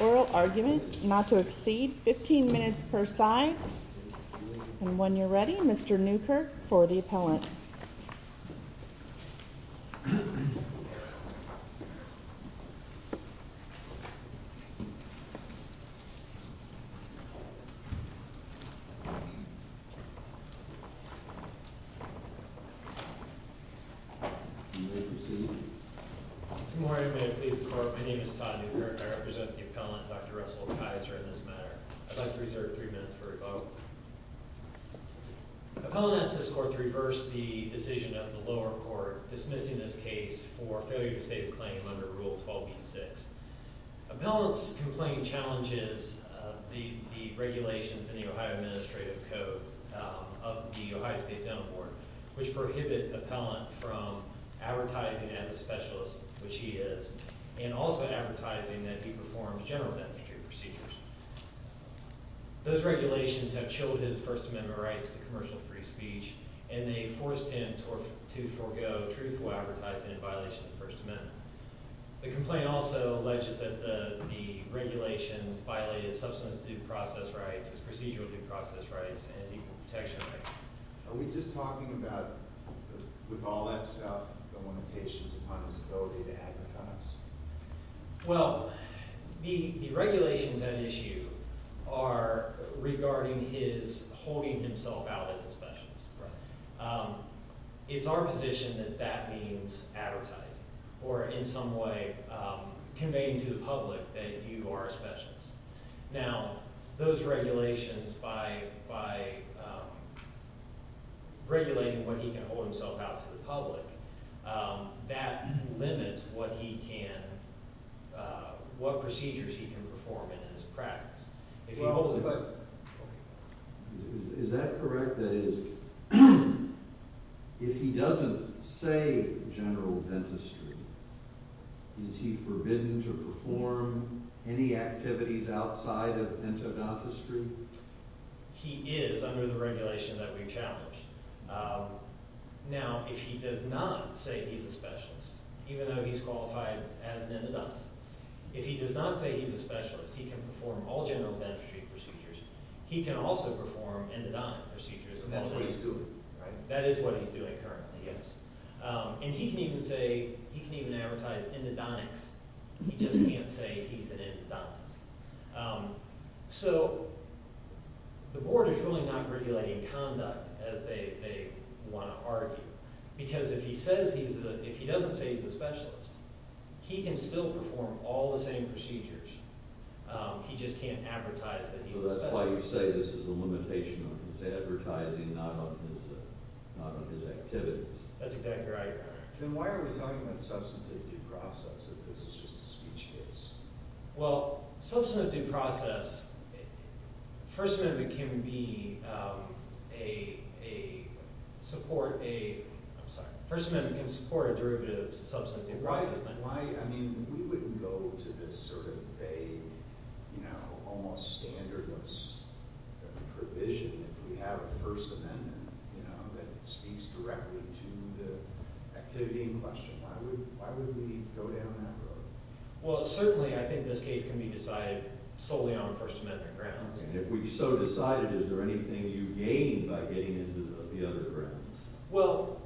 Oral argument not to exceed 15 minutes per side And when you're ready, Mr. Newkirk for the appellant. Good morning, may it please the court. My name is Todd Newkirk. I represent the appellant, Dr. Russell Kiser, in this matter. I'd like to reserve three minutes for rebuttal. Appellant asks this court to reverse the decision of the lower court dismissing this case for failure to state a claim under Rule 12b-6. Appellant's complaint challenges the regulations in the Ohio Administrative Code of the Ohio State Denmark Board, which prohibit appellant from advertising as a specialist, which he is, and also advertising that he performs general beneficiary procedures. Those regulations have chilled his First Amendment rights to commercial free speech, and they forced him to forgo truthful advertising in violation of the First Amendment. The complaint also alleges that the regulations violated his substance abuse process rights, his procedural due process rights, and his equal protection rights. Are we just talking about, with all that stuff, the limitations upon his ability to advertise? Well, the regulations at issue are regarding his holding himself out as a specialist. It's our position that that means advertising, or in some way conveying to the public that you are a specialist. Now, those regulations, by regulating what he can hold himself out to the public, that limits what procedures he can perform in his practice. Is that correct? That is, if he doesn't say general dentistry, is he forbidden to perform any activities outside of dental dentistry? He is, under the regulations that we challenge. Now, if he does not say he's a specialist, even though he's qualified as an endodontist, if he does not say he's a specialist, he can perform all general dentistry procedures. He can also perform endodontic procedures. Because that's what he's doing. That is what he's doing currently, yes. And he can even say, he can even advertise endodontics. He just can't say he's an endodontist. So, the board is really not regulating conduct, as they want to argue. Because if he says he's a, if he doesn't say he's a specialist, he can still perform all the same procedures. He just can't advertise that he's a specialist. So that's why you say this is a limitation on his advertising, not on his activities. That's exactly right. Then why are we talking about substantive due process, if this is just a speech case? Well, substantive due process, First Amendment can be a, support a, I'm sorry, First Amendment can support a derivative of substantive due process. Why, I mean, we wouldn't go to this sort of vague, you know, almost standardless provision if we have a First Amendment, you know, that speaks directly to the activity in question. Why would we go down that road? Well, certainly, I think this case can be decided solely on First Amendment grounds. And if we so decide it, is there anything you gain by getting into the other grounds? Well,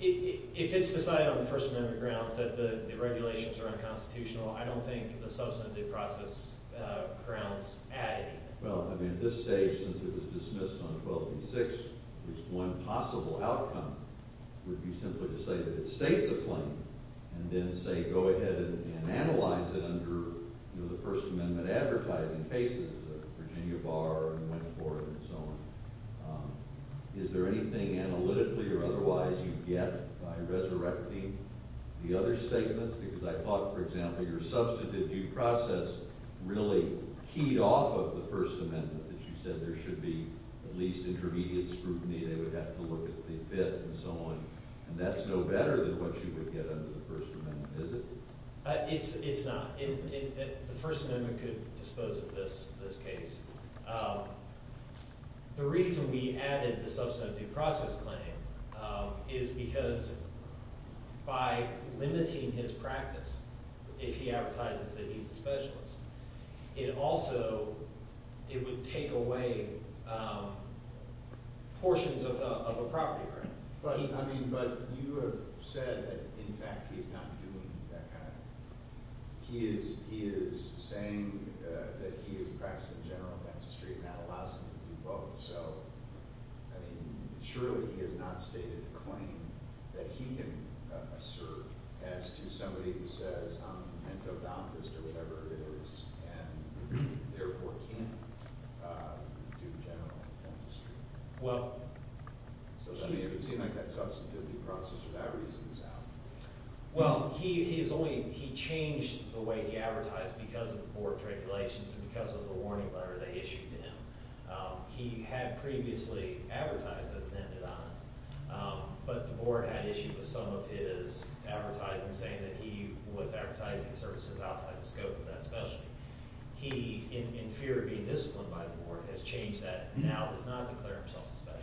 if it's decided on the First Amendment grounds that the regulations are unconstitutional, I don't think the substantive due process grounds add anything. Well, I mean, at this stage, since it was dismissed on 12th and 6th, at least one possible outcome would be simply to say that it states a claim and then say go ahead and analyze it under, you know, the First Amendment advertising cases, Virginia Bar and Wentworth and so on. Is there anything analytically or otherwise you get by resurrecting the other statements? Because I thought, for example, your substantive due process really keyed off of the First Amendment that you said there should be at least intermediate scrutiny. They would have to look at the Fifth and so on. And that's no better than what you would get under the First Amendment, is it? It's not. The First Amendment could dispose of this case. The reason we added the substantive due process claim is because by limiting his practice, if he advertises that he's a specialist, it also – it would take away portions of a property, right? But you have said that, in fact, he's not doing that kind of – he is saying that he is practicing general dentistry and that allows him to do both. So, I mean, surely he has not stated a claim that he can assert as to somebody who says I'm an endodontist or whatever it is and therefore can't do general dentistry. So then it would seem like that substantive due process for that reason is out. Well, he is only – he changed the way he advertised because of the board regulations and because of the warning letter they issued to him. He had previously advertised as an endodontist, but the board had issued some of his advertising saying that he was advertising services outside the scope of that specialty. He, in fear of being disciplined by the board, has changed that and now does not declare himself a specialist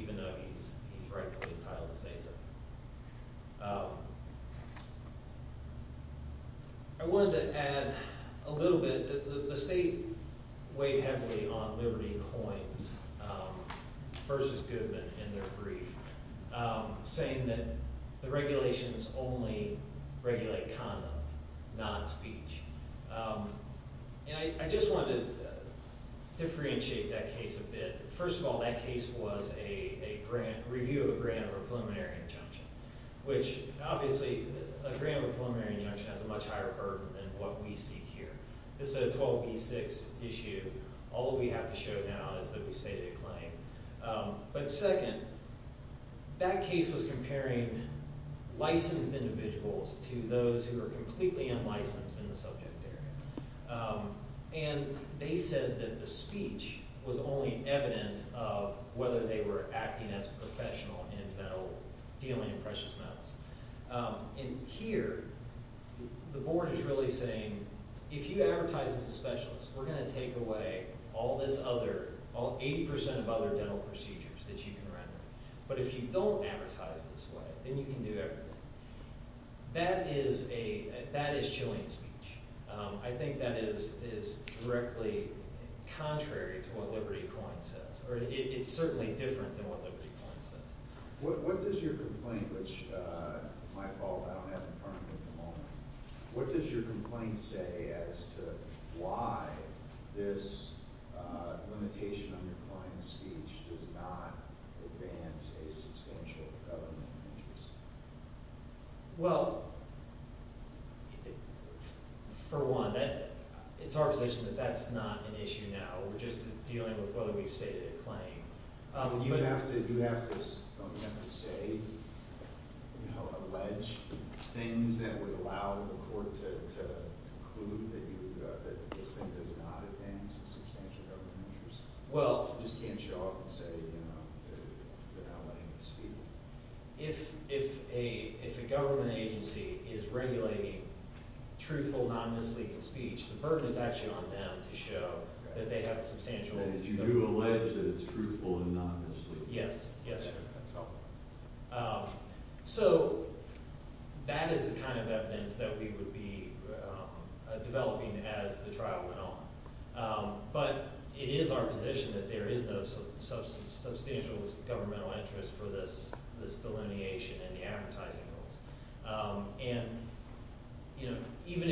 even though he's rightfully entitled to say so. I wanted to add a little bit – the state weighed heavily on Liberty Coins versus Goodman in their brief, saying that the regulations only regulate conduct, not speech. And I just wanted to differentiate that case a bit. First of all, that case was a review of a grant of a preliminary injunction, which obviously a grant of a preliminary injunction has a much higher burden than what we see here. This is a 12B6 issue. All we have to show now is that we stated a claim. But second, that case was comparing licensed individuals to those who are completely unlicensed in the subject area. And they said that the speech was only evidence of whether they were acting as a professional in mental – dealing in precious metals. And here, the board is really saying, if you advertise as a specialist, we're going to take away all this other – 80% of other dental procedures that you can render. But if you don't advertise this way, then you can do everything. That is a – that is chilling speech. I think that is directly contrary to what Liberty Coins says, or it's certainly different than what Liberty Coins says. What does your complaint, which – my fault, I don't have it in front of me at the moment. What does your complaint say as to why this limitation on your client's speech does not advance a substantial government interest? Well, for one, it's our position that that's not an issue now. We're just dealing with whether we've stated a claim. You have to say, you know, allege things that would allow the court to conclude that you – that this thing does not advance a substantial government interest? Well – You just can't show up and say, you know, they're not letting you speak. If a government agency is regulating truthful, non-misleading speech, the burden is actually on them to show that they have a substantial – That you do allege that it's truthful and non-misleading. Yes. Yes, sir. So that is the kind of evidence that we would be developing as the trial went on. But it is our position that there is no substantial governmental interest for this delineation and the advertising rules. And, you know, even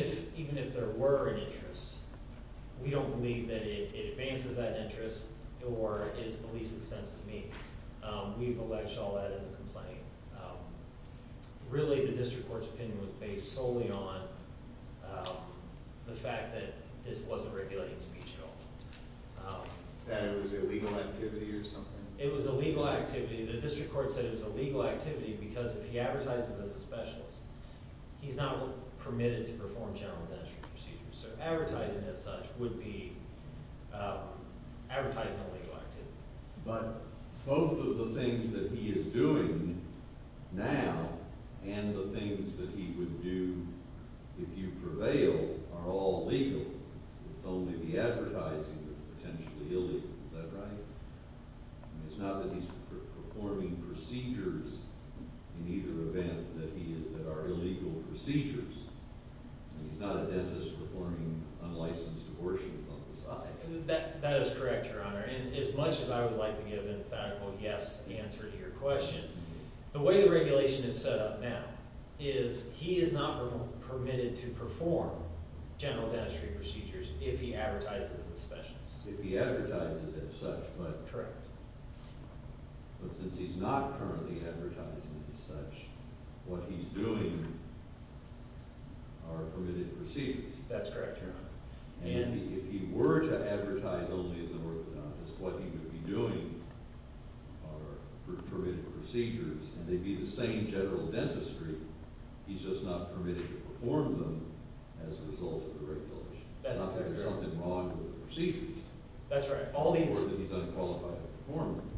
if there were an interest, we don't believe that it advances that interest or is the least extensive means. We've alleged all that in the complaint. Really, the district court's opinion was based solely on the fact that this wasn't regulating speech at all. That it was illegal activity or something? It was illegal activity. The district court said it was illegal activity because if he advertises as a specialist, he's not permitted to perform general dentistry procedures. So advertising as such would be advertising illegal activity. But both of the things that he is doing now and the things that he would do if you prevail are all legal. It's only the advertising that's potentially illegal. Is that right? It's not that he's performing procedures in either event that are illegal procedures. And he's not a dentist performing unlicensed abortions on the side. That is correct, Your Honor. And as much as I would like to give an emphatical yes answer to your question, the way the regulation is set up now is he is not permitted to perform general dentistry procedures if he advertises as a specialist. If he advertises as such, but since he's not currently advertising as such, what he's doing are permitted procedures. That's correct, Your Honor. And if he were to advertise only as an orthodontist, what he would be doing are permitted procedures, and they'd be the same general dentistry. He's just not permitted to perform them as a result of the regulation. It's not that there's something wrong with the procedures. That's right. Or that he's unqualified to perform them.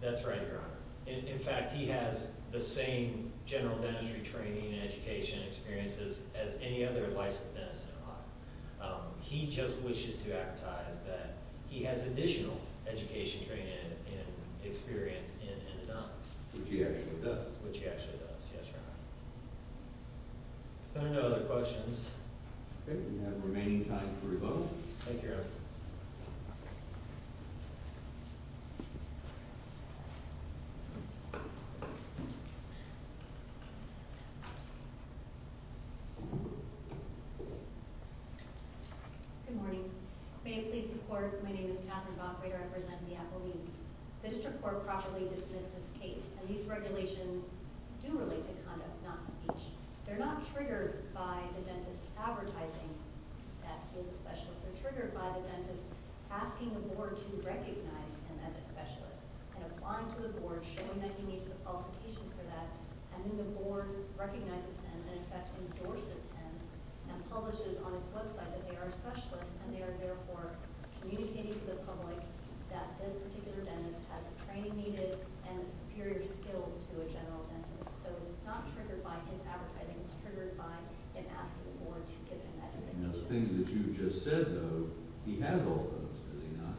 That's right, Your Honor. In fact, he has the same general dentistry training and education experiences as any other licensed dentist in Ohio. He just wishes to advertise that he has additional education training and experience in dentists. Which he actually does. Which he actually does. Yes, Your Honor. If there are no other questions. Okay. We have remaining time for rebuttal. Thank you, Your Honor. Good morning. May it please the Court, my name is Katherine Bockway. I represent the Appalachians. The District Court properly dismissed this case, and these regulations do relate to conduct, not speech. They're not triggered by the dentist advertising that he's a specialist. They're triggered by the dentist asking the Board to recognize him as a specialist. And applying to the Board, showing that he meets the qualifications for that. And then the Board recognizes him, and in fact endorses him, and publishes on its website that they are specialists. And they are therefore communicating to the public that this particular dentist has the training needed and superior skills to a general dentist. So it's not triggered by his advertising. It's triggered by him asking the Board to give him that designation. Those things that you just said, though, he has all of those, does he not?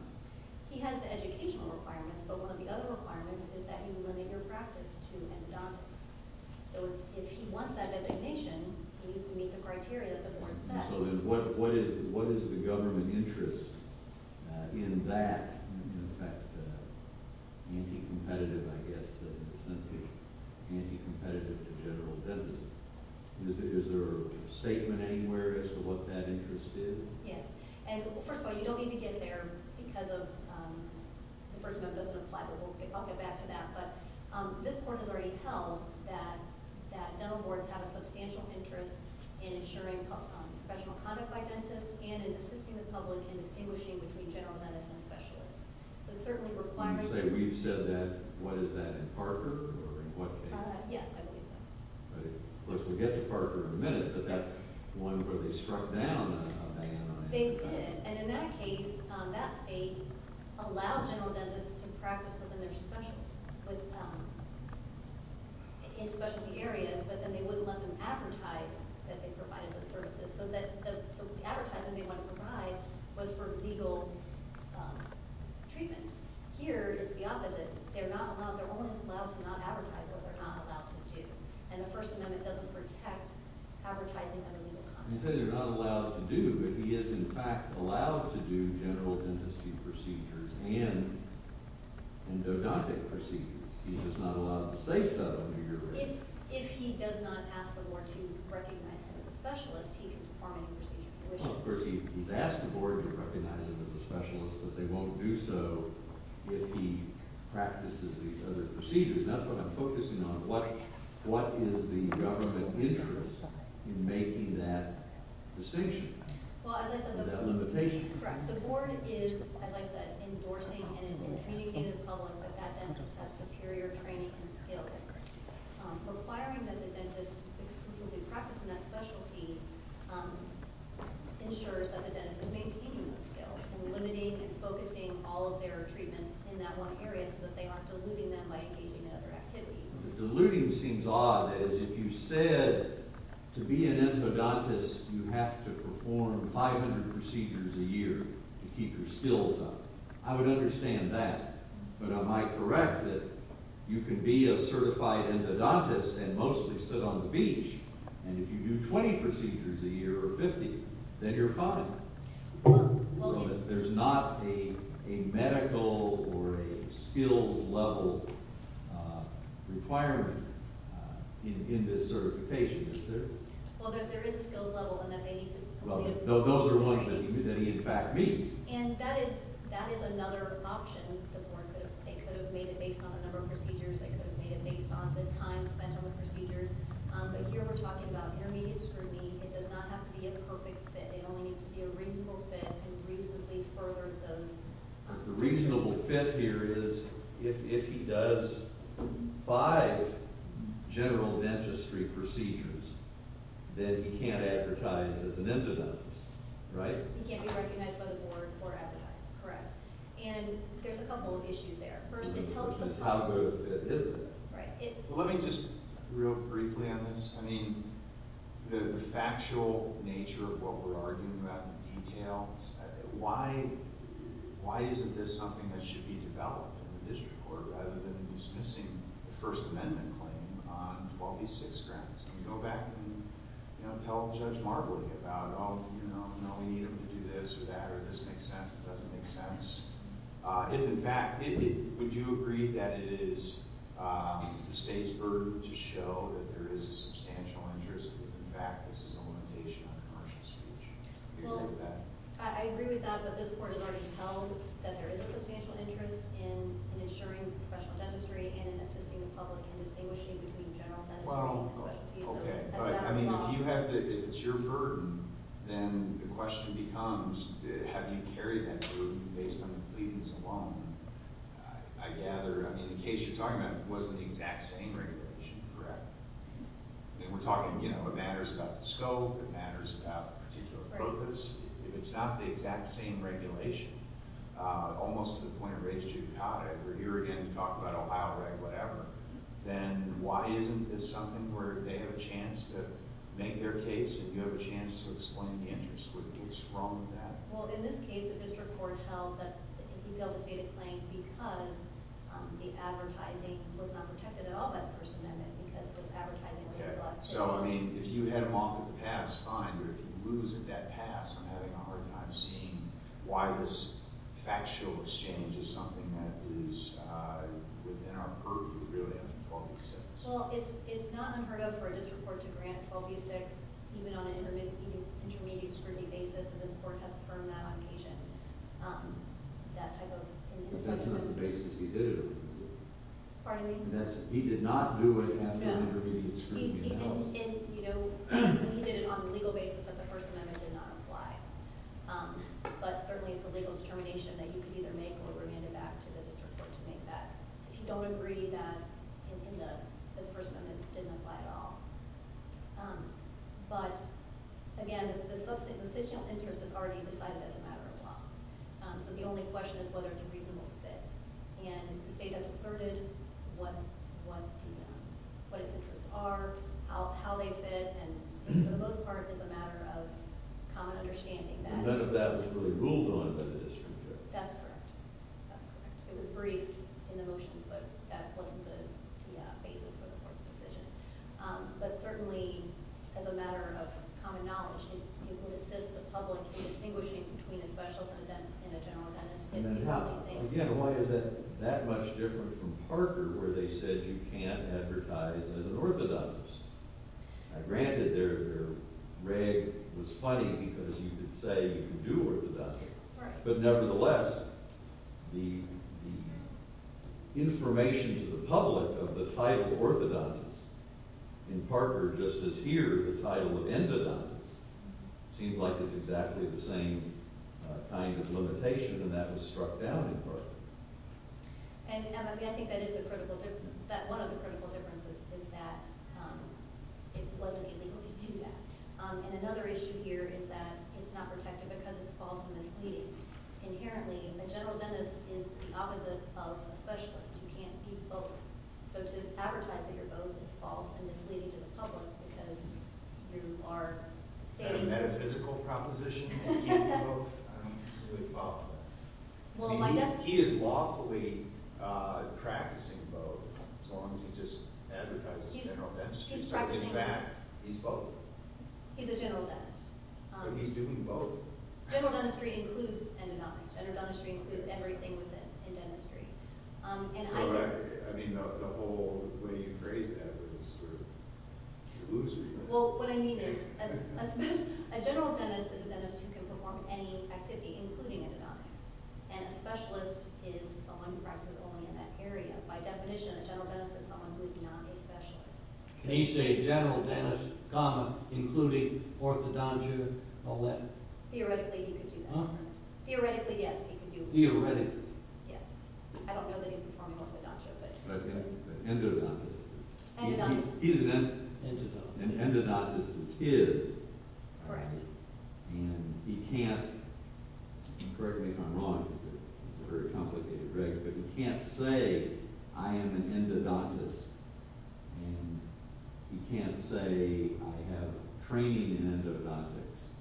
He has the educational requirements, but one of the other requirements is that you limit your practice to endodontics. So if he wants that designation, he needs to meet the criteria that the Board sets. So then what is the government interest in that? In fact, anti-competitive, I guess, in the sense of anti-competitive to general dentists. Is there a statement anywhere as to what that interest is? Yes. And first of all, you don't need to get there because the First Amendment doesn't apply, but I'll get back to that. But this Court has already held that dental boards have a substantial interest in ensuring professional conduct by dentists and in assisting the public in distinguishing between general dentists and specialists. So certainly requirements— You say we've said that. What is that, in Parker or in what case? Yes, I believe so. We'll get to Parker in a minute, but that's one where they struck down a ban on— They did. And in that case, that state allowed general dentists to practice in specialty areas, but then they wouldn't let them advertise that they provided those services. So the advertisement they wanted to provide was for legal treatments. Here, it's the opposite. They're only allowed to not advertise what they're not allowed to do, and the First Amendment doesn't protect advertising under legal conduct. You say they're not allowed to do, but he is in fact allowed to do general dentistry procedures and endodontic procedures. He's just not allowed to say so under your rules. If he does not ask the board to recognize him as a specialist, he can perform any procedure he wishes. Well, of course, he's asked the board to recognize him as a specialist, but they won't do so if he practices these other procedures. That's what I'm focusing on. What is the government interest in making that distinction, that limitation? The board is, as I said, endorsing and communicating to the public that that dentist has superior training and skills, requiring that the dentist exclusively practice in that specialty ensures that the dentist is maintaining those skills and limiting and focusing all of their treatments in that one area so that they aren't diluting them by engaging in other activities. Diluting seems odd, as if you said to be an endodontist you have to perform 500 procedures a year to keep your skills up. I would understand that, but I might correct that you can be a certified endodontist and mostly sit on the beach, and if you do 20 procedures a year or 50, then you're fine. So there's not a medical or a skills level requirement in this certification, is there? Well, there is a skills level, and that they need to complete it. Well, those are ones that he in fact meets. And that is another option. The board could have made it based on a number of procedures. They could have made it based on the time spent on the procedures. But here we're talking about intermediate scrutiny. It does not have to be a perfect fit. It only needs to be a reasonable fit and reasonably furthered those skills. The reasonable fit here is if he does five general dentistry procedures, then he can't advertise as an endodontist, right? He can't be recognized by the board or advertised, correct. And there's a couple of issues there. First, it helps the… How good of a fit is it? Let me just, real briefly on this. I mean, the factual nature of what we're arguing about, the details, why isn't this something that should be developed in the district court rather than dismissing the First Amendment claim on 12e6 grounds? Can we go back and tell Judge Marbley about, oh, you know, no, we need him to do this or that, or this makes sense, it doesn't make sense. If, in fact, would you agree that it is the state's burden to show that there is a substantial interest, that, in fact, this is a limitation on commercial speech? I agree with that, but this board has already held that there is a substantial interest in ensuring professional dentistry and in assisting the public in distinguishing between general dentistry and specialty. Okay, but, I mean, if you have the—if it's your burden, then the question becomes, have you carried that burden based on the pleadings alone? I gather—I mean, the case you're talking about wasn't the exact same regulation, correct? I mean, we're talking, you know, it matters about the scope, it matters about particular practice. If it's not the exact same regulation, almost to the point of race judicata, if we're here again to talk about Ohio Reg, whatever, then why isn't this something where they have a chance to make their case and you have a chance to explain the interest? What's wrong with that? Well, in this case, the district court held that if you failed to state a claim because the advertising was not protected at all by the First Amendment because it was advertising that was collected— Okay, so, I mean, if you had them off at the pass, fine, but if you lose at that pass, I'm having a hard time seeing why this factual exchange is something that is within our purview, really, after 12 v. 6. Well, it's not unheard of for a district court to grant 12 v. 6 even on an intermediate scrutiny basis, and this Court has confirmed that on occasion. That type of— But that's not the basis he did it on. Pardon me? He did not do it after an intermediate scrutiny in the House. And, you know, he did it on the legal basis that the First Amendment did not apply. But certainly it's a legal determination that you could either make or remand it back to the district court to make that if you don't agree that in the First Amendment it didn't apply at all. But, again, the substantial interest is already decided as a matter of law. So the only question is whether it's a reasonable fit. And the state has asserted what its interests are, how they fit, and for the most part it's a matter of common understanding that— None of that was really ruled on by the district court. That's correct. That's correct. It was briefed in the motions, but that wasn't the basis for the Court's decision. But certainly, as a matter of common knowledge, it would assist the public in distinguishing between a specialist and a general attendance. And then how? Again, why is that that much different from Parker, where they said you can't advertise as an orthodontist? Granted, their reg was funny because you could say you can do orthodontics. But nevertheless, the information to the public of the title orthodontist, in Parker, just as here, the title of endodontist, seems like it's exactly the same kind of limitation, and that was struck down in Parker. And I think that one of the critical differences is that it wasn't illegal to do that. And another issue here is that it's not protected because it's false and misleading. Inherently, a general dentist is the opposite of a specialist. You can't be both. So to advertise that you're both is false and misleading to the public because you are stating— Is that a metaphysical proposition? You can't be both? I don't really follow that. He is lawfully practicing both, as long as he just advertises general dentistry. He's practicing both. In fact, he's both. He's a general dentist. But he's doing both. General dentistry includes endodontics. General dentistry includes everything within dentistry. I mean, the whole way you phrased that was sort of delusory. Well, what I mean is a general dentist is a dentist who can perform any activity, including endodontics. And a specialist is someone who practices only in that area. By definition, a general dentist is someone who is not a specialist. Can he say general dentist, including orthodontia, all that? Theoretically, he could do that. Theoretically, yes, he could do it. Theoretically. Yes. I don't know that he's performing orthodontia, but— Endodontics. Endodontics. He's an endodontist. Endodontist. An endodontist is his. Correct. And he can't—correct me if I'm wrong. It's a very complicated reg, but he can't say, I am an endodontist. And he can't say, I have training in endodontics.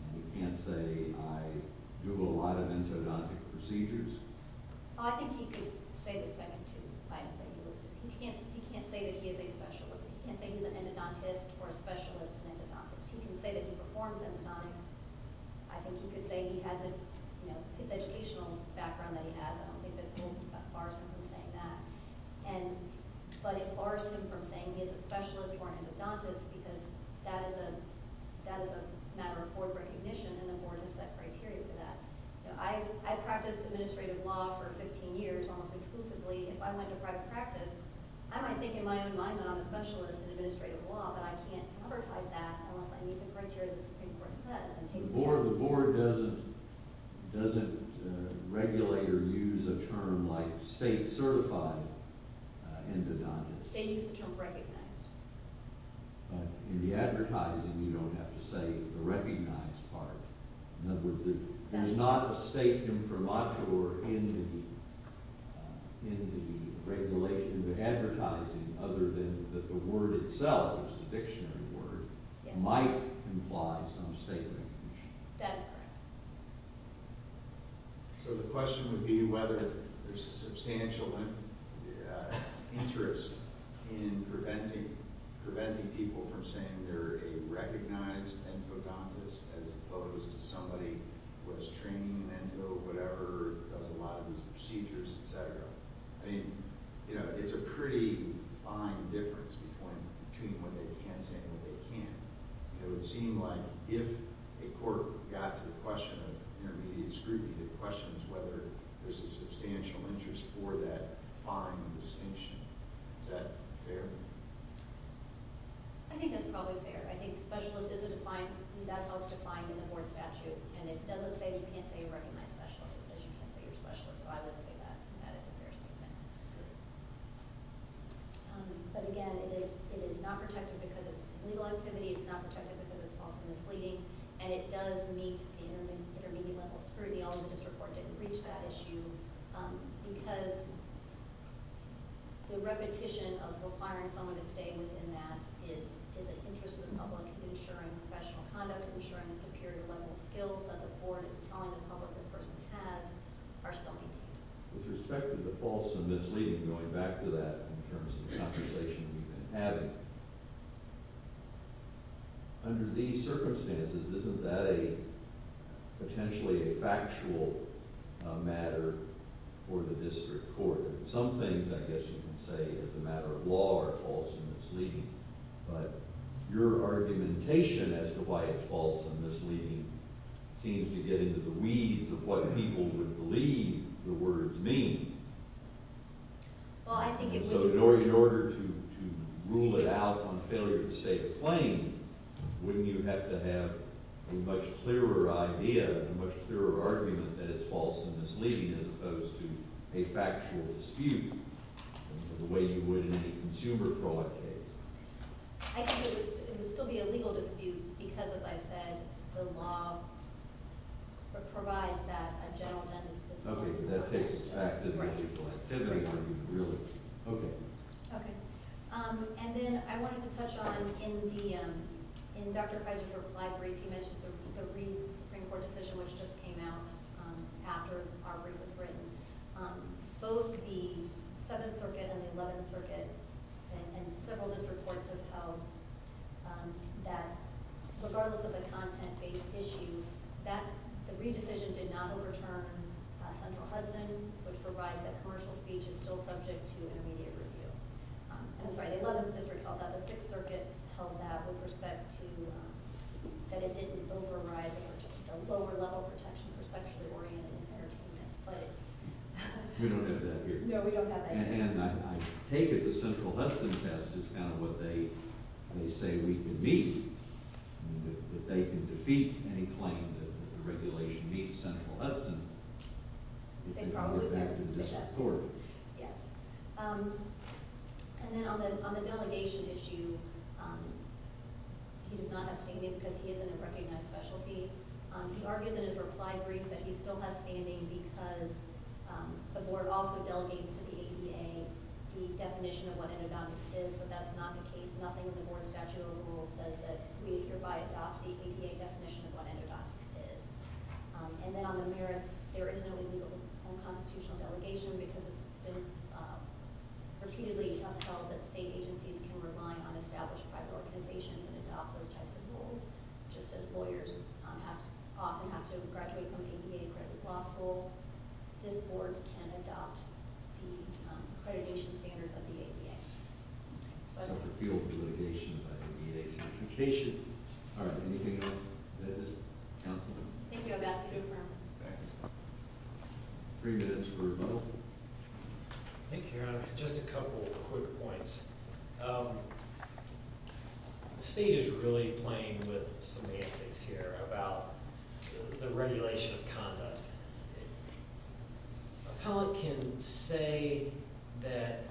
And he can't say, I do a lot of endodontic procedures. I think he could say this back in 2005. He can't say that he is a specialist. He can't say he's an endodontist or a specialist in endodontics. He can say that he performs endodontics. I think he could say he has an educational background that he has. I don't think that will bar him from saying that. But it bars him from saying he is a specialist or an endodontist because that is a matter of board recognition, and the board has set criteria for that. I practiced administrative law for 15 years almost exclusively. If I went to private practice, I might think in my own mind that I'm a specialist in administrative law, but I can't advertise that unless I meet the criteria the Supreme Court says. The board doesn't regulate or use a term like state-certified endodontists. They use the term recognized. In the advertising, you don't have to say the recognized part. There's not a state imprimatur in the regulation of advertising other than that the word itself, the dictionary word, might imply some state recognition. That is correct. So the question would be whether there's a substantial interest in preventing people from saying they're a recognized endodontist as opposed to somebody who has training in endodontics, does a lot of these procedures, etc. It's a pretty fine difference between what they can say and what they can't. It would seem like if a court got to the question of intermediate scrutiny, the question is whether there's a substantial interest for that fine distinction. Is that fair? I think that's probably fair. I think specialist is defined. That's how it's defined in the board statute. It doesn't say you can't say you're a recognized specialist. It says you can't say you're a specialist, so I would say that is a fair statement. But again, it is not protected because it's illegal activity. It's not protected because it's false and misleading. And it does meet the intermediate level scrutiny. All of the district court didn't reach that issue because the repetition of requiring someone to stay within that is an interest of the public, ensuring professional conduct, ensuring a superior level of skills that the board is telling the public this person has, are still contained. With respect to the false and misleading, going back to that in terms of the conversation we've been having, under these circumstances, isn't that potentially a factual matter for the district court? Some things, I guess you can say, as a matter of law, are false and misleading. But your argumentation as to why it's false and misleading seems to get into the weeds of what people would believe the words mean. So in order to rule it out on failure to state a claim, wouldn't you have to have a much clearer idea, a much clearer argument that it's false and misleading as opposed to a factual dispute? The way you would in any consumer fraud case. I think it would still be a legal dispute because, as I've said, the law provides that a general dentist... Okay, because that takes effect in the usual activity. Right. Okay. Okay. And then I wanted to touch on, in Dr. Fizer's reply brief, he mentions the re-Supreme Court decision which just came out after our brief was written. Both the 7th Circuit and the 11th Circuit and several district courts have held that regardless of the content-based issue, the re-decision did not overturn Central Hudson, which provides that commercial speech is still subject to intermediate review. I'm sorry, the 11th District held that. The 6th Circuit held that with respect to... that it didn't override the lower-level protection for sexually-oriented entertainment. We don't have that here. No, we don't have that here. And I take it the Central Hudson test is kind of what they say we can beat, that they can defeat any claim that the regulation meets Central Hudson. They probably can. Yes. And then on the delegation issue, he does not have standing because he is in a recognized specialty. He argues in his reply brief that he still has standing because the board also delegates to the APA the definition of what endodontics is, but that's not the case. Nothing in the board's statute of rules says that we hereby adopt the APA definition of what endodontics is. And then on the merits, there is no illegal unconstitutional delegation because it's been repeatedly held that state agencies can rely on established private organizations and adopt those types of rules, just as lawyers often have to graduate from the APA graduate law school. This board can adopt the accreditation standards of the APA. So that's a field of litigation by the APA certification. All right. Anything else? Councilwoman? Thank you. I've asked you to confirm. Thanks. Three minutes for rebuttal. Thank you, Your Honor. Just a couple quick points. The state is really playing with semantics here about the regulation of conduct. Appellant can say that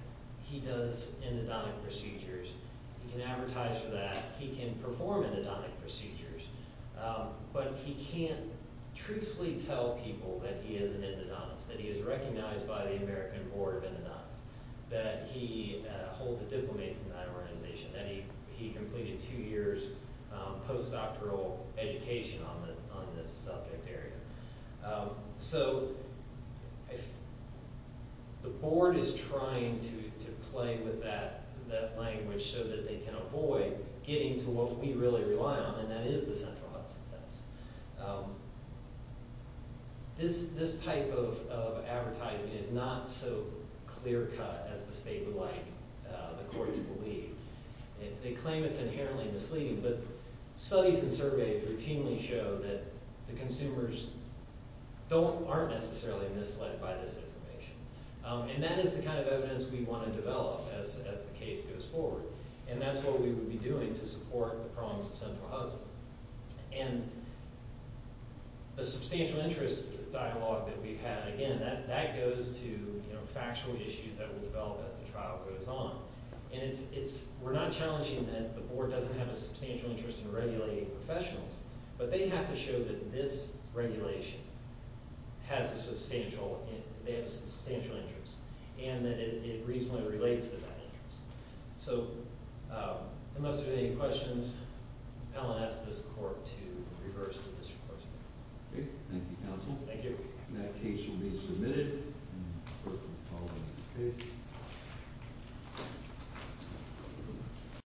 he does endodontic procedures. He can advertise for that. He can perform endodontic procedures, but he can't truthfully tell people that he is an endodontist, that he is recognized by the American Board of Endodontists, that he holds a diplomate from that organization, that he completed two years postdoctoral education on this subject area. So the board is trying to play with that language so that they can avoid getting to what we really rely on, and that is the central Hudson test. This type of advertising is not so clear-cut as the state would like the court to believe. They claim it's inherently misleading, but studies and surveys routinely show that the consumers aren't necessarily misled by this information. And that is the kind of evidence we want to develop as the case goes forward, and that's what we would be doing to support the prongs of central Hudson. And the substantial interest dialogue that we've had, again, that goes to factual issues that will develop as the trial goes on. And we're not challenging that the board doesn't have a substantial interest in regulating professionals, but they have to show that this regulation has a substantial interest and that it reasonably relates to that interest. So unless there are any questions, I'll ask this court to reverse the discussion. Okay. Thank you, counsel. Thank you. And that case will be submitted.